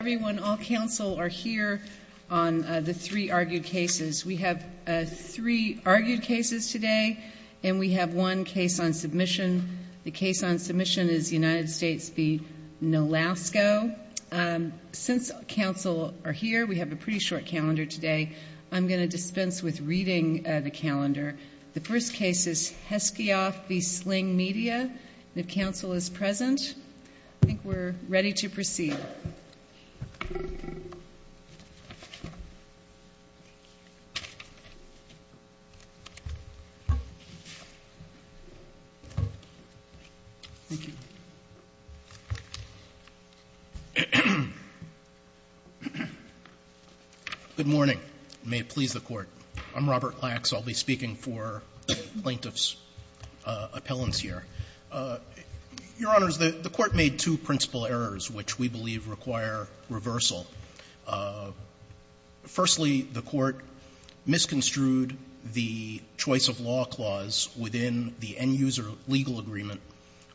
Everyone, all counsel are here on the three argued cases. We have three argued cases today and we have one case on submission. The case on submission is United States v. Nolasco. Since counsel are here, we have a pretty short calendar today. I'm going to dispense with reading the calendar. The first case is Heskyoff v. Sling Media. If counsel is present, I think we're ready to proceed. Thank you. Robert Klax, Plaintiff's Appellant Good morning. May it please the Court. I'm Robert Klax. I'll be speaking for the Plaintiff's Appellant here. Your Honors, the Court made two principal errors which we believe require reversal. Firstly, the Court misconstrued the choice-of-law clause within the end-user legal agreement,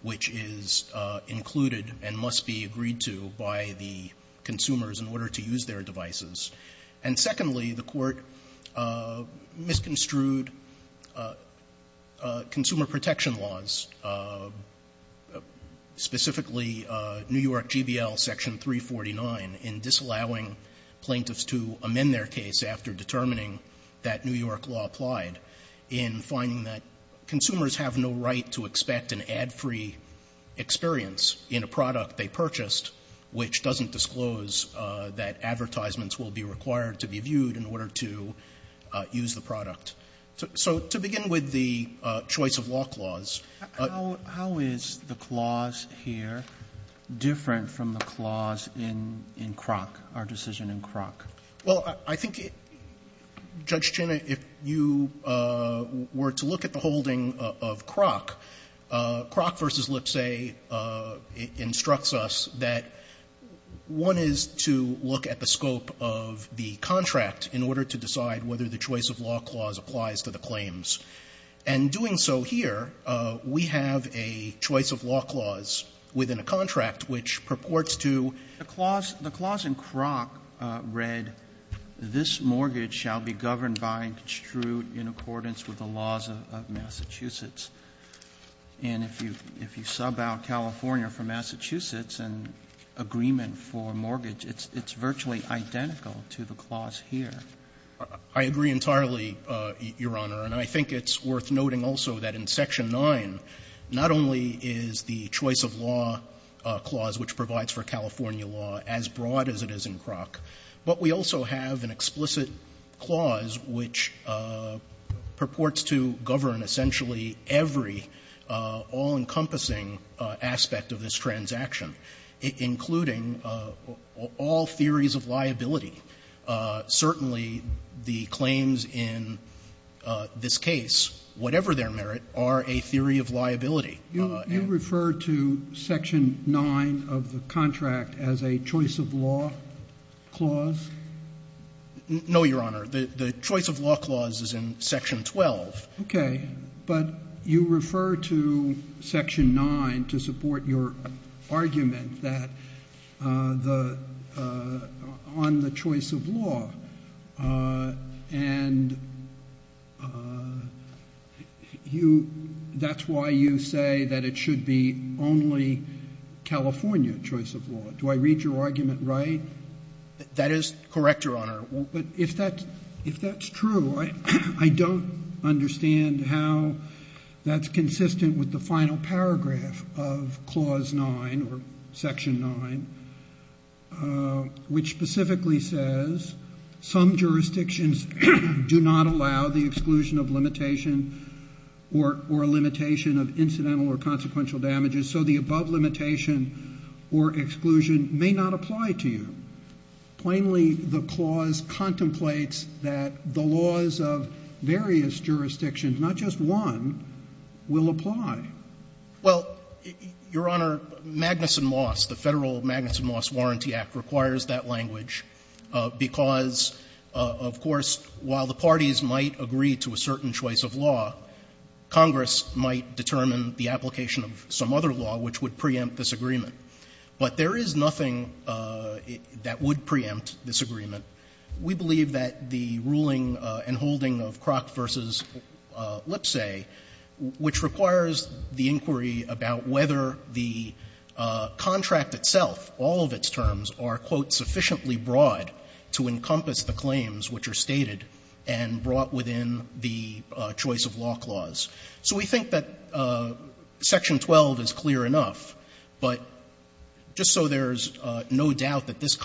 which is included and must be agreed to by the consumers in order to use their devices, and secondly, the Court misconstrued consumer protection laws, specifically New York GBL Section 349, in disallowing plaintiffs to amend their case after determining that New York law applied in finding that consumers have no right to expect an ad-free experience in a product they purchased, which doesn't disclose that advertisements will be required to be viewed in order to use the product. So to begin with the choice-of-law clause. Roberts, how is the clause here different from the clause in Croc, our decision in Croc? Well, I think, Judge Chin, if you were to look at the holding of Croc, Croc v. Lipsey instructs us that one is to look at the scope of the contract in order to decide whether the choice-of-law clause applies to the claims. And doing so here, we have a choice-of-law clause within a contract which purports to the clause. The clause in Croc read, ''This mortgage shall be governed by and construed in accordance with the laws of Massachusetts.'' And if you sub out California for Massachusetts and agreement for mortgage, it's virtually identical to the clause here. I agree entirely, Your Honor. And I think it's worth noting also that in Section 9, not only is the choice-of-law clause which provides for California law as broad as it is in Croc, but we also have an explicit clause which purports to govern essentially every all-encompassing aspect of this transaction, including all theories of liability, certainly the one that's used in the claims in this case, whatever their merit, are a theory of liability. You refer to Section 9 of the contract as a choice-of-law clause? No, Your Honor. The choice-of-law clause is in Section 12. Okay. But you refer to Section 9 to support your argument that the – on the choice-of-law and you – that's why you say that it should be only California choice-of-law. Do I read your argument right? That is correct, Your Honor. But if that's true, I don't understand how that's consistent with the final paragraph of Clause 9 or Section 9, which specifically says some jurisdictions do not allow the exclusion of limitation or a limitation of incidental or consequential damages. So the above limitation or exclusion may not apply to you. Plainly, the clause contemplates that the laws of various jurisdictions, not just one, will apply. Well, Your Honor, Magnuson-Moss, the Federal Magnuson-Moss Warranty Act, requires that language because, of course, while the parties might agree to a certain choice of law, Congress might determine the application of some other law which would preempt this agreement. But there is nothing that would preempt this agreement. We believe that the ruling and holding of Kroc v. Lipsey, which requires the inquiry about whether the contract itself, all of its terms, are, quote, sufficiently broad to encompass the claims which are stated and brought within the choice-of-law clause. So we think that Section 12 is clear enough, but just so there's no doubt that this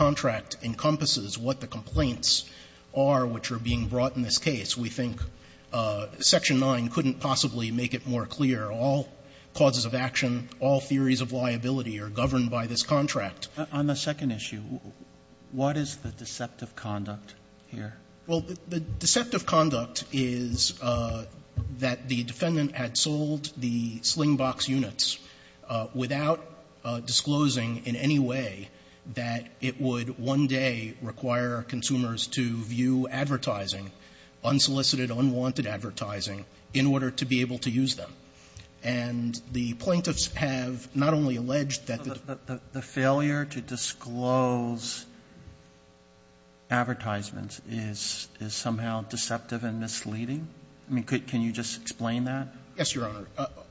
are which are being brought in this case. We think Section 9 couldn't possibly make it more clear. All causes of action, all theories of liability are governed by this contract. On the second issue, what is the deceptive conduct here? Well, the deceptive conduct is that the defendant had sold the sling box units without disclosing in any way that it would one day require consumers to view advertising, unsolicited, unwanted advertising, in order to be able to use them. And the plaintiffs have not only alleged that the the failure to disclose advertisements is somehow deceptive and misleading. I mean, can you just explain that? Yes, Your Honor.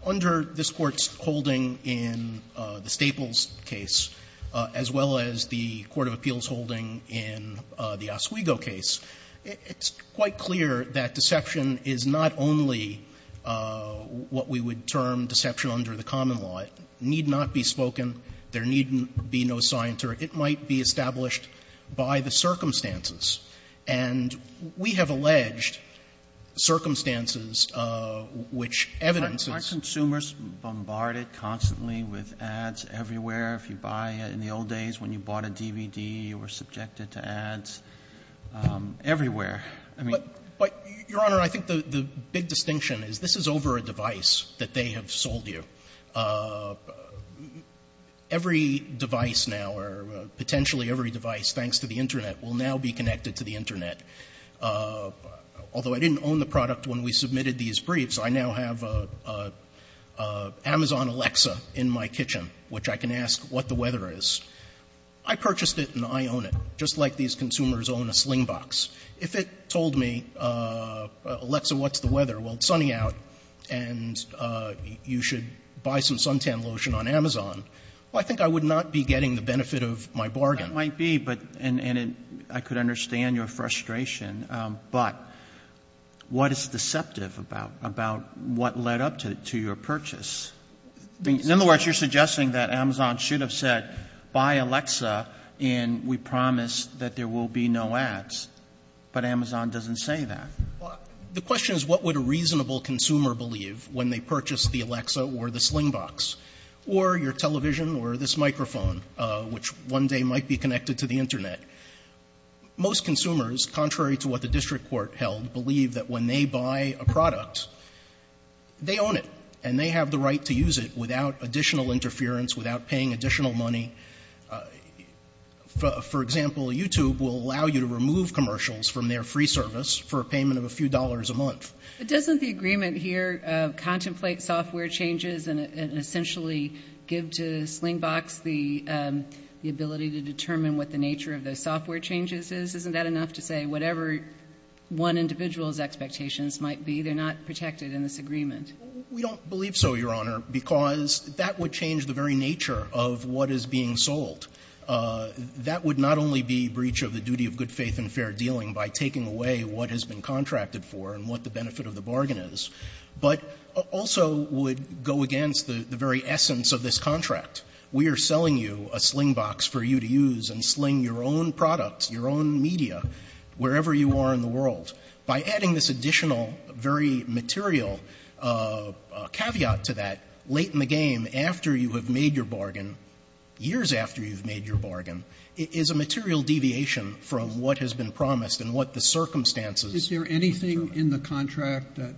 Under this Court's holding in the Staples case, as well as the court of appeals holding in the Oswego case, it's quite clear that deception is not only what we would term deception under the common law. It need not be spoken. There need be no scienter. It might be established by the circumstances. And we have alleged circumstances which evidence is — Aren't consumers bombarded constantly with ads everywhere? If you buy — in the old days when you bought a DVD, you were subjected to ads everywhere. I mean — But, Your Honor, I think the big distinction is this is over a device that they have sold you. Every device now, or potentially every device, thanks to the Internet, will now be connected to the Internet. Although I didn't own the product when we submitted these briefs, I now have an Amazon Alexa in my kitchen, which I can ask what the weather is. I purchased it and I own it, just like these consumers own a Slingbox. If it told me, Alexa, what's the weather? Well, it's sunny out and you should buy some suntan lotion on Amazon. Well, I think I would not be getting the benefit of my bargain. It might be, but — and I could understand your frustration. But what is deceptive about what led up to your purchase? In other words, you're suggesting that Amazon should have said, buy Alexa and we promise that there will be no ads. But Amazon doesn't say that. The question is what would a reasonable consumer believe when they purchased the Alexa or the Slingbox or your television or this microphone, which one day might be connected to the Internet? Most consumers, contrary to what the district court held, believe that when they buy a product, they own it and they have the right to use it without additional interference, without paying additional money. For example, YouTube will allow you to remove commercials from their free service for a payment of a few dollars a month. But doesn't the agreement here contemplate software changes and essentially give to Slingbox the ability to determine what the nature of the software changes is? Isn't that enough to say whatever one individual's expectations might be, they're not protected in this agreement? We don't believe so, Your Honor, because that would change the very nature of what is being sold. That would not only be breach of the duty of good faith and fair dealing by taking away what has been contracted for and what the benefit of the bargain is, but also would go against the very essence of this contract. We are selling you a Slingbox for you to use and sling your own product, your own media, wherever you are in the world. By adding this additional, very material caveat to that, late in the game, after you have made your bargain, years after you've made your bargain, is a material deviation from what has been promised and what the circumstances determine. Is there anything in the contract that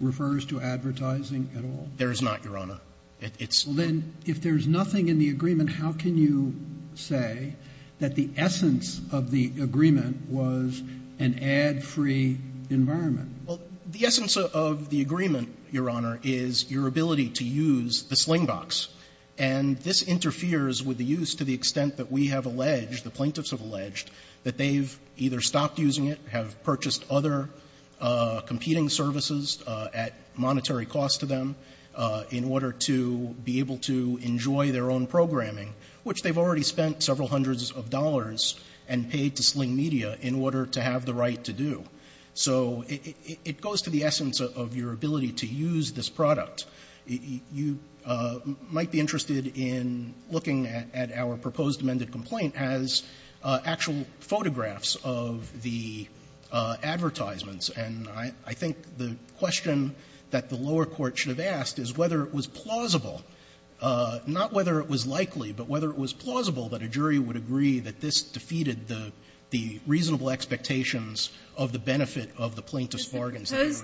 refers to advertising at all? There is not, Your Honor. It's not. Well, then, if there's nothing in the agreement, how can you say that the essence of the agreement was an ad-free environment? Well, the essence of the agreement, Your Honor, is your ability to use the Slingbox. And this interferes with the use to the extent that we have alleged, the plaintiffs have alleged, that they've either stopped using it, have purchased other competing services at monetary cost to them in order to be able to enjoy their own programming, which they've already spent several hundreds of dollars and paid to Sling Media in order to have the right to do. So it goes to the essence of your ability to use this product. You might be interested in looking at our proposed amended complaint as actual photographs of the advertisements. And I think the question that the lower court should have asked is whether it was plausible, not whether it was likely, but whether it was plausible that a jury would agree that this defeated the reasonable expectations of the benefit of the plaintiff's bargains. Does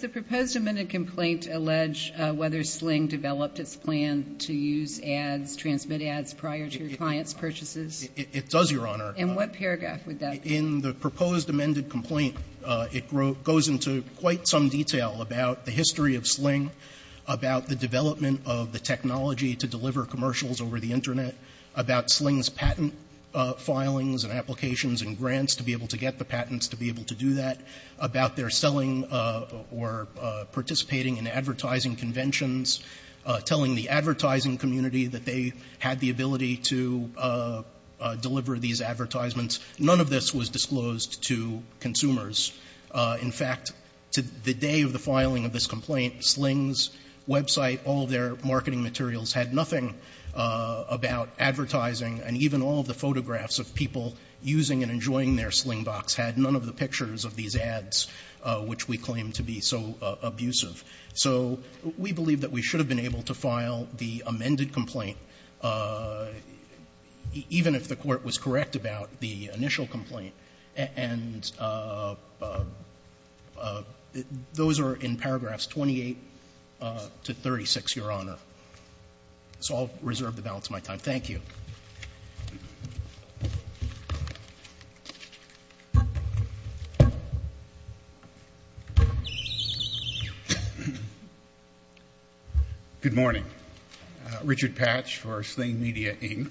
the proposed amended complaint allege whether Sling developed its plan to use ads, transmit ads prior to your client's purchases? It does, Your Honor. And what paragraph would that be? In the proposed amended complaint, it goes into quite some detail about the history of Sling, about the development of the technology to deliver commercials over the Internet, about Sling's patent filings and applications and grants to be able to get the patents to be able to do that, about their selling or participating in advertising conventions, telling the advertising community that they had the ability to deliver these advertisements. None of this was disclosed to consumers. In fact, to the day of the filing of this complaint, Sling's website, all their marketing materials had nothing about advertising, and even all of the photographs of people using and enjoying their Slingbox had none of the pictures of these ads, which we claim to be so abusive. So we believe that we should have been able to file the amended complaint, even if the Court was correct about the initial complaint. And those are in paragraphs 28 to 36, Your Honor. So I'll reserve the balance of my time. Thank you. Good morning. Richard Patch for Sling Media, Inc.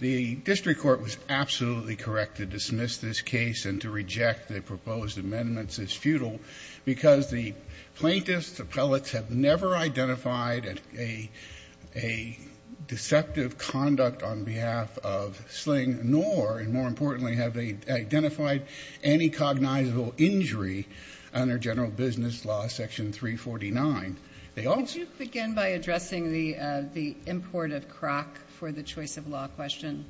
The District Court was absolutely correct to dismiss this case and to reject the proposed amendments as futile because the plaintiffs, the appellates, have never identified a deceptive conduct on behalf of Sling, nor, and more importantly, have they identified any cognizable injury under General Business Law, Section 349. They also ---- Could you begin by addressing the import of Kroc for the choice of law question?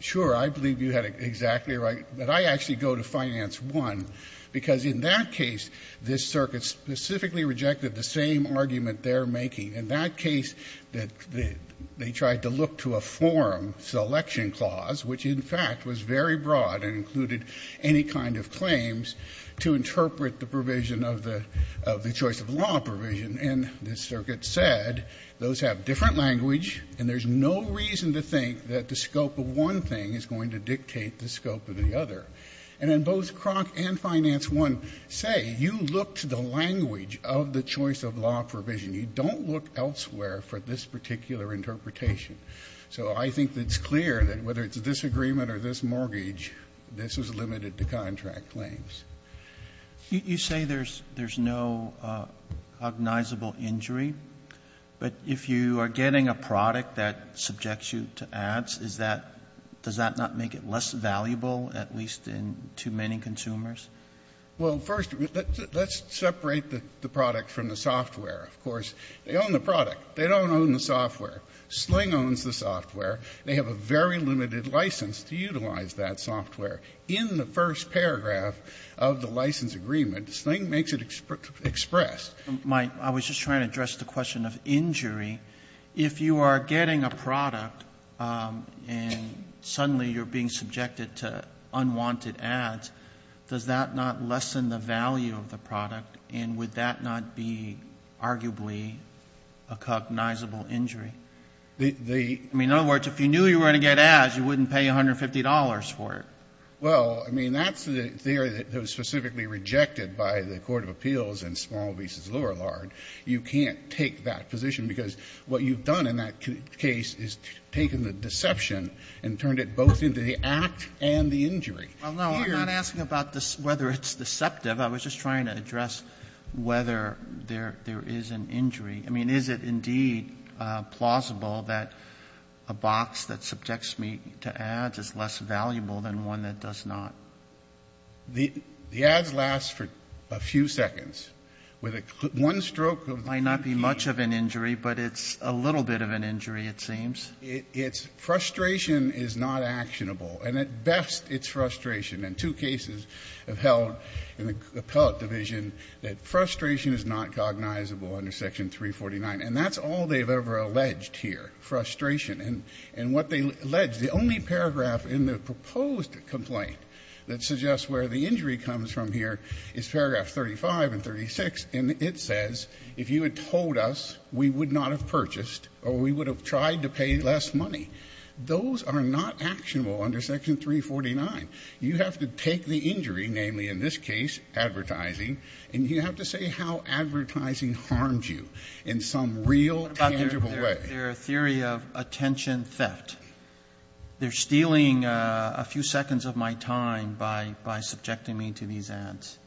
Sure. I believe you had exactly right. But I actually go to Finance 1, because in that case, this circuit specifically rejected the same argument they're making. In that case, they tried to look to a forum selection clause, which, in fact, was very broad and included any kind of claims to interpret the provision of the choice of law provision. And this circuit said those have different language and there's no reason to think that the scope of one thing is going to dictate the scope of the other. And in both Kroc and Finance 1 say, you look to the language of the choice of law provision. You don't look elsewhere for this particular interpretation. So I think it's clear that whether it's this agreement or this mortgage, this is limited to contract claims. You say there's no cognizable injury, but if you are getting a product that subjects you to ads, is that ---- does that not make it less valuable, at least in too many consumers? Well, first, let's separate the product from the software. Of course, they own the product. They don't own the software. Sling owns the software. They have a very limited license to utilize that software. In the first paragraph of the license agreement, Sling makes it expressed. I was just trying to address the question of injury. If you are getting a product and suddenly you're being subjected to unwanted ads, does that not lessen the value of the product? And would that not be arguably a cognizable injury? I mean, in other words, if you knew you were going to get ads, you wouldn't pay $150 for it. Well, I mean, that's the theory that was specifically rejected by the Court of Appeals in Small v. Lourillard. You can't take that position because what you've done in that case is taken the deception and turned it both into the act and the injury. Well, no, I'm not asking about whether it's deceptive. I was just trying to address whether there is an injury. I mean, is it indeed plausible that a box that subjects me to ads is less valuable than one that does not? The ads last for a few seconds. With one stroke of the key... It might not be much of an injury, but it's a little bit of an injury, it seems. It's frustration is not actionable. And at best, it's frustration. And two cases have held in the appellate division that frustration is not cognizable under Section 349. And that's all they've ever alleged here, frustration. And what they allege, the only paragraph in the proposed complaint that suggests where the injury comes from here is paragraph 35 and 36, and it says, if you had told us, we would not have purchased or we would have tried to pay less money. Those are not actionable under Section 349. You have to take the injury, namely in this case advertising, and you have to say how advertising harms you in some real tangible way. What about their theory of attention theft? They're stealing a few seconds of my time by subjecting me to these ads.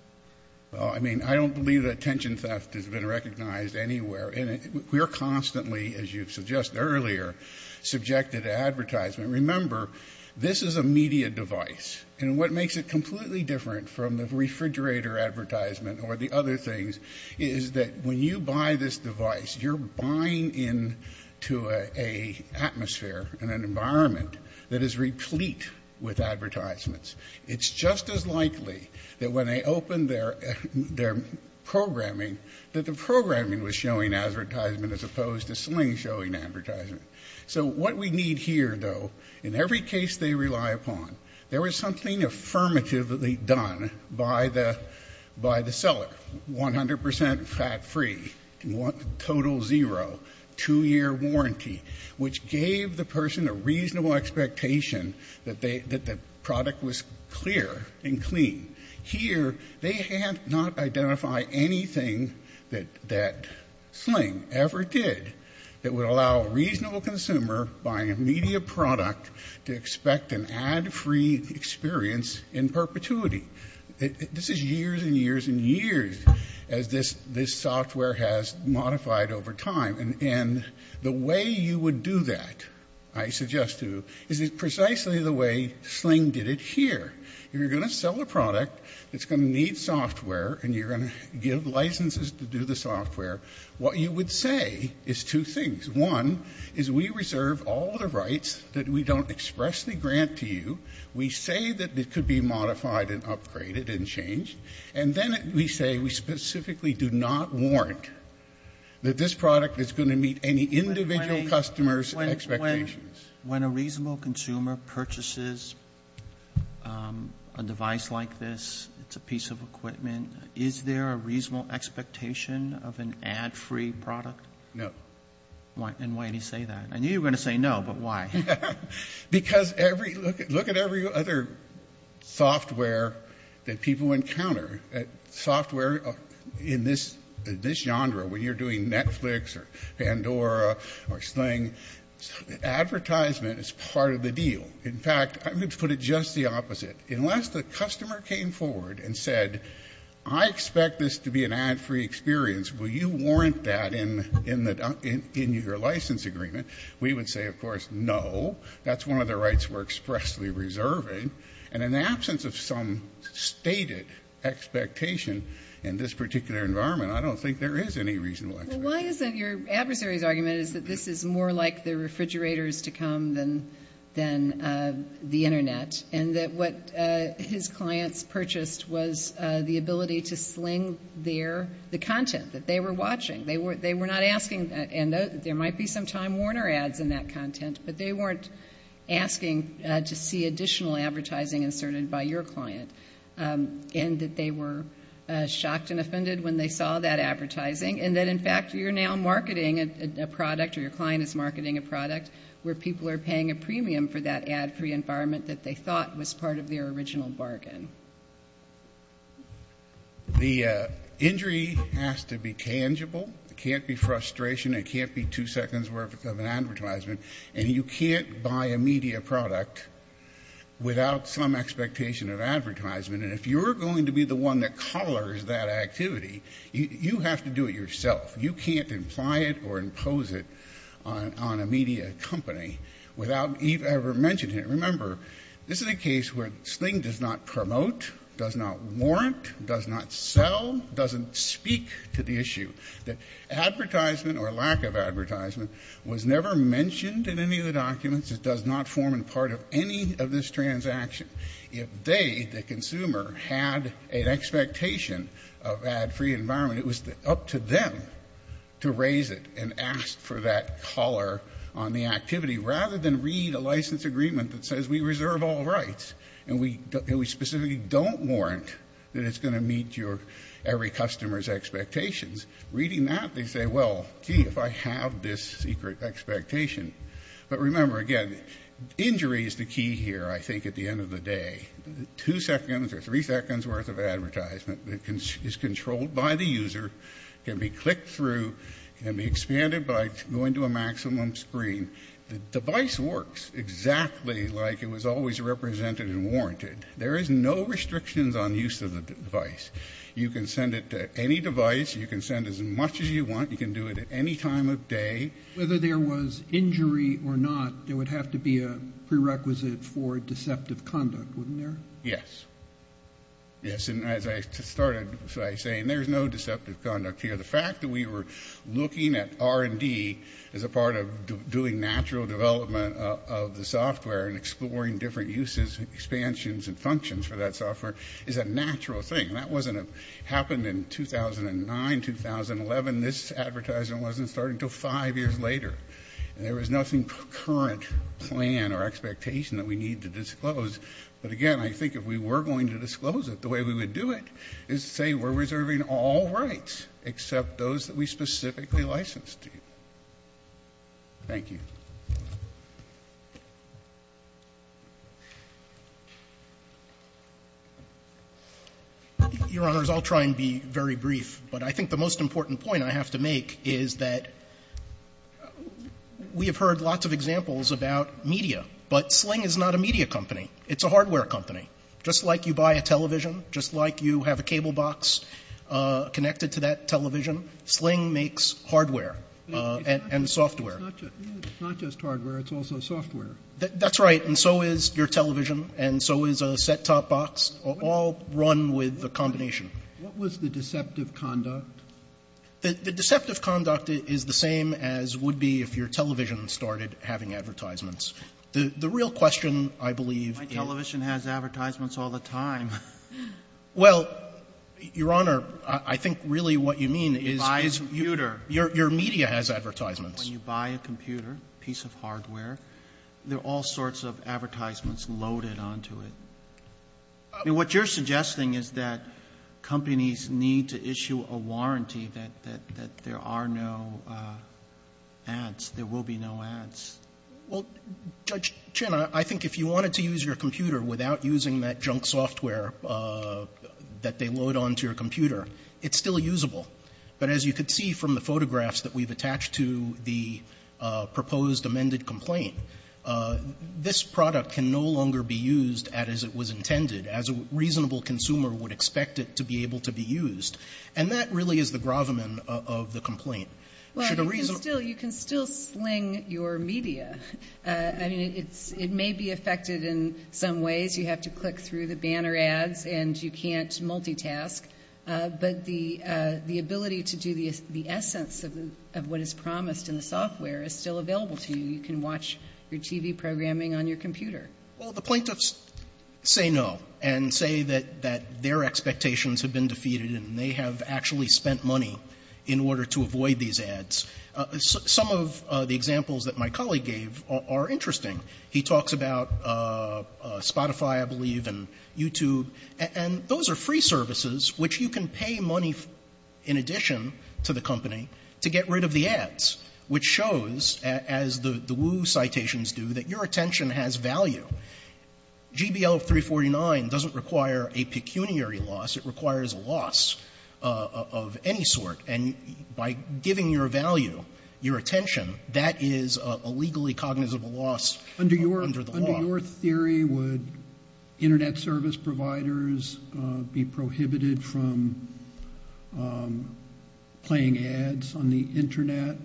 Well, I mean, I don't believe that attention theft has been recognized anywhere. And we're constantly, as you've suggested earlier, subjected to advertisement. Remember, this is a media device. And what makes it completely different from the refrigerator advertisement or the other things is that when you buy this device, you're buying into a atmosphere and an environment that is replete with advertisements. It's just as likely that when they open their programming, that the programming was showing advertisement as opposed to sling showing advertisement. So what we need here, though, in every case they rely upon, there was something affirmatively done by the seller, 100% fat-free, total zero, two-year warranty, which gave the person a reasonable expectation that the product was clear and clean. Here, they have not identified anything that sling ever did that would allow a reasonable consumer buying a media product to expect an ad-free experience in perpetuity. This is years and years and years as this software has modified over time. And the way you would do that, I suggest to you, is precisely the way sling did it here. If you're going to sell a product that's going to need software and you're going to give licenses to do the software, what you would say is two things. One is we reserve all the rights that we don't expressly grant to you. We say that it could be modified and upgraded and changed. And then we say we specifically do not warrant that this product is going to meet any individual customer's expectations. When a reasonable consumer purchases a device like this, it's a piece of equipment, is there a reasonable expectation of an ad-free product? No. And why do you say that? I knew you were going to say no, but why? Because every, look at every other software that people encounter, software in this genre, when you're doing Netflix or Pandora or sling, advertisement is part of the deal. In fact, I'm going to put it just the opposite. Unless the customer came forward and said, I expect this to be an ad-free experience, will you warrant that in your license agreement? We would say, of course, no. That's one of the rights we're expressly reserving. And in the absence of some stated expectation in this particular environment, I don't think there is any reasonable expectation. Well, why isn't your adversary's argument is that this is more like the refrigerators to come than the Internet, and that what his clients purchased was the ability to sling their, the content that they were watching. They were not asking, and there might be some Time Warner ads in that content, but they weren't asking to see additional advertising inserted by your client. And that they were shocked and offended when they saw that advertising, and that in fact you're now marketing a product or your client is marketing a product where people are paying a premium for that ad-free environment that they thought was part of their original bargain. The injury has to be tangible. It can't be frustration. It can't be two seconds worth of an advertisement. And you can't buy a media product without some expectation of advertisement. And if you're going to be the one that colors that activity, you have to do it yourself. You can't imply it or impose it on a media company without, you've ever mentioned it. Remember, this is a case where sling does not promote, does not warrant, does not sell, doesn't speak to the issue. That advertisement or lack of advertisement was never mentioned in any of the documents. It does not form a part of any of this transaction. If they, the consumer, had an expectation of ad-free environment, it was up to them to raise it and ask for that color on the activity rather than read a license agreement that says we reserve all rights and we specifically don't warrant that it's going to meet your, every customer's expectations. Reading that, they say, well, gee, if I have this secret expectation. But remember, again, injury is the key here, I think, at the end of the day. Two seconds or three seconds worth of advertisement is controlled by the user, can be clicked through, can be expanded by going to a maximum screen. The device works exactly like it was always represented and warranted. There is no restrictions on use of the device. You can send it to any device. You can send as much as you want. You can do it at any time of day. Roberts. Whether there was injury or not, there would have to be a prerequisite for deceptive conduct, wouldn't there? Yes. Yes. And as I started by saying, there's no deceptive conduct here. The fact that we were looking at R&D as a part of doing natural development of the software and exploring different uses, expansions, and functions for that software is a natural thing. And that wasn't, it happened in 2009, 2011. This advertisement wasn't starting until five years later. And there was nothing current, planned, or expectation that we need to disclose. But again, I think if we were going to disclose it, the way we would do it is to say we're going to pick up those that we specifically licensed to you. Thank you. Your Honors, I'll try and be very brief. But I think the most important point I have to make is that we have heard lots of examples about media, but Sling is not a media company. It's a hardware company. Just like you buy a television, just like you have a cable box connected to that television, Sling makes hardware and software. It's not just hardware, it's also software. That's right, and so is your television, and so is a set-top box, all run with a combination. What was the deceptive conduct? The deceptive conduct is the same as would be if your television started having advertisements. The real question, I believe, is My television has advertisements all the time. Well, Your Honor, I think really what you mean is your media has advertisements. When you buy a computer, a piece of hardware, there are all sorts of advertisements loaded onto it. What you're suggesting is that companies need to issue a warranty that there are no ads, there will be no ads. Well, Judge Chin, I think if you wanted to use your computer without using that junk software that they load onto your computer, it's still usable. But as you could see from the photographs that we've attached to the proposed amended complaint, this product can no longer be used as it was intended, as a reasonable consumer would expect it to be able to be used, and that really is the gravamen of the complaint. Well, you can still sling your media. I mean, it may be affected in some ways. You have to click through the banner ads, and you can't multitask. But the ability to do the essence of what is promised in the software is still available to you. You can watch your TV programming on your computer. Well, the plaintiffs say no and say that their expectations have been defeated and they have actually spent money in order to avoid these ads. Some of the examples that my colleague gave are interesting. He talks about Spotify, I believe, and YouTube, and those are free services which you can pay money in addition to the company to get rid of the ads, which shows, as the Wu citations do, that your attention has value. GBL-349 doesn't require a pecuniary loss. It requires a loss of any sort. And by giving your value, your attention, that is a legally cognizant loss under the law. Under your theory, would Internet service providers be prohibited from playing ads on the Internet?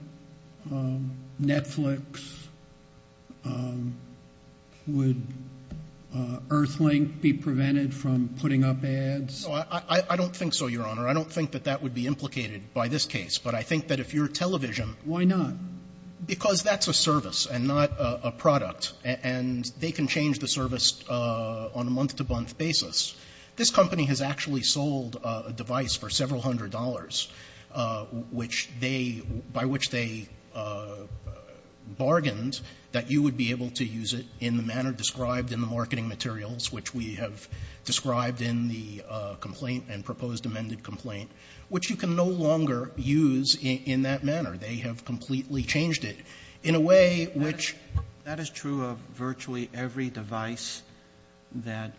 Netflix, would Earthlink be prevented from putting up ads? I don't think so, Your Honor. I don't think that that would be implicated by this case. But I think that if your television Why not? Because that's a service and not a product. And they can change the service on a month-to-month basis. This company has actually sold a device for several hundred dollars, which they by which they bargained that you would be able to use it in the manner described in the marketing materials, which we have described in the complaint and proposed amended complaint, which you can no longer use in that manner. They have completely changed it in a way which That is true of virtually every device that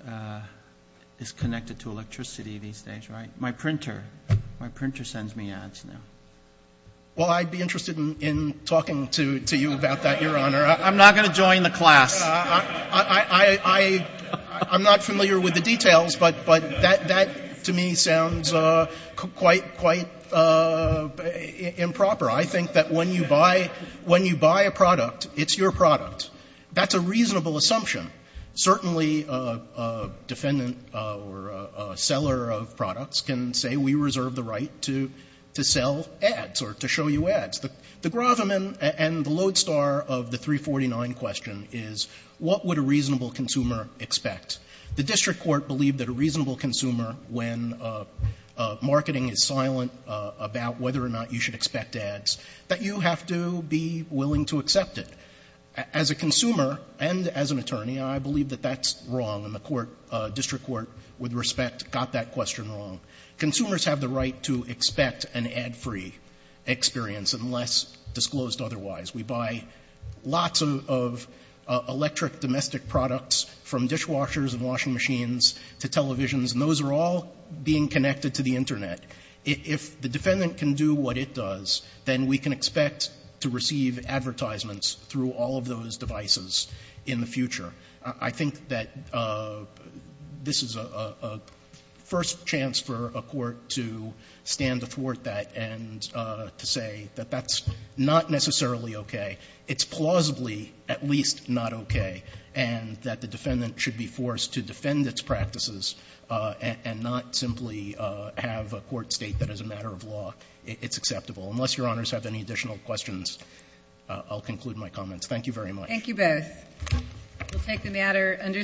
is connected to electricity these days, right? My printer. My printer sends me ads now. Well, I'd be interested in talking to you about that, Your Honor. I'm not going to join the class. I'm not familiar with the details, but that to me sounds quite improper. I think that when you buy a product, it's your product. That's a reasonable assumption. Certainly, a defendant or a seller of products can say we reserve the right to sell ads or to show you ads. The gravamen and the lodestar of the 349 question is what would a reasonable consumer expect? The district court believed that a reasonable consumer, when marketing is silent about whether or not you should expect ads, that you have to be willing to accept it. As a consumer and as an attorney, I believe that that's wrong, and the court, district court, with respect, got that question wrong. Consumers have the right to expect an ad-free experience unless disclosed otherwise. We buy lots of electric domestic products from dishwashers and washing machines to televisions, and those are all being connected to the Internet. If the defendant can do what it does, then we can expect to receive advertisements through all of those devices in the future. I think that this is a first chance for a court to stand to thwart that and to say that that's not necessarily okay. It's plausibly at least not okay, and that the defendant should be forced to defend its practices and not simply have a court state that as a matter of law, it's acceptable. Unless Your Honors have any additional questions, I'll conclude my comments. Thank you very much. Thank you both. We'll take the matter under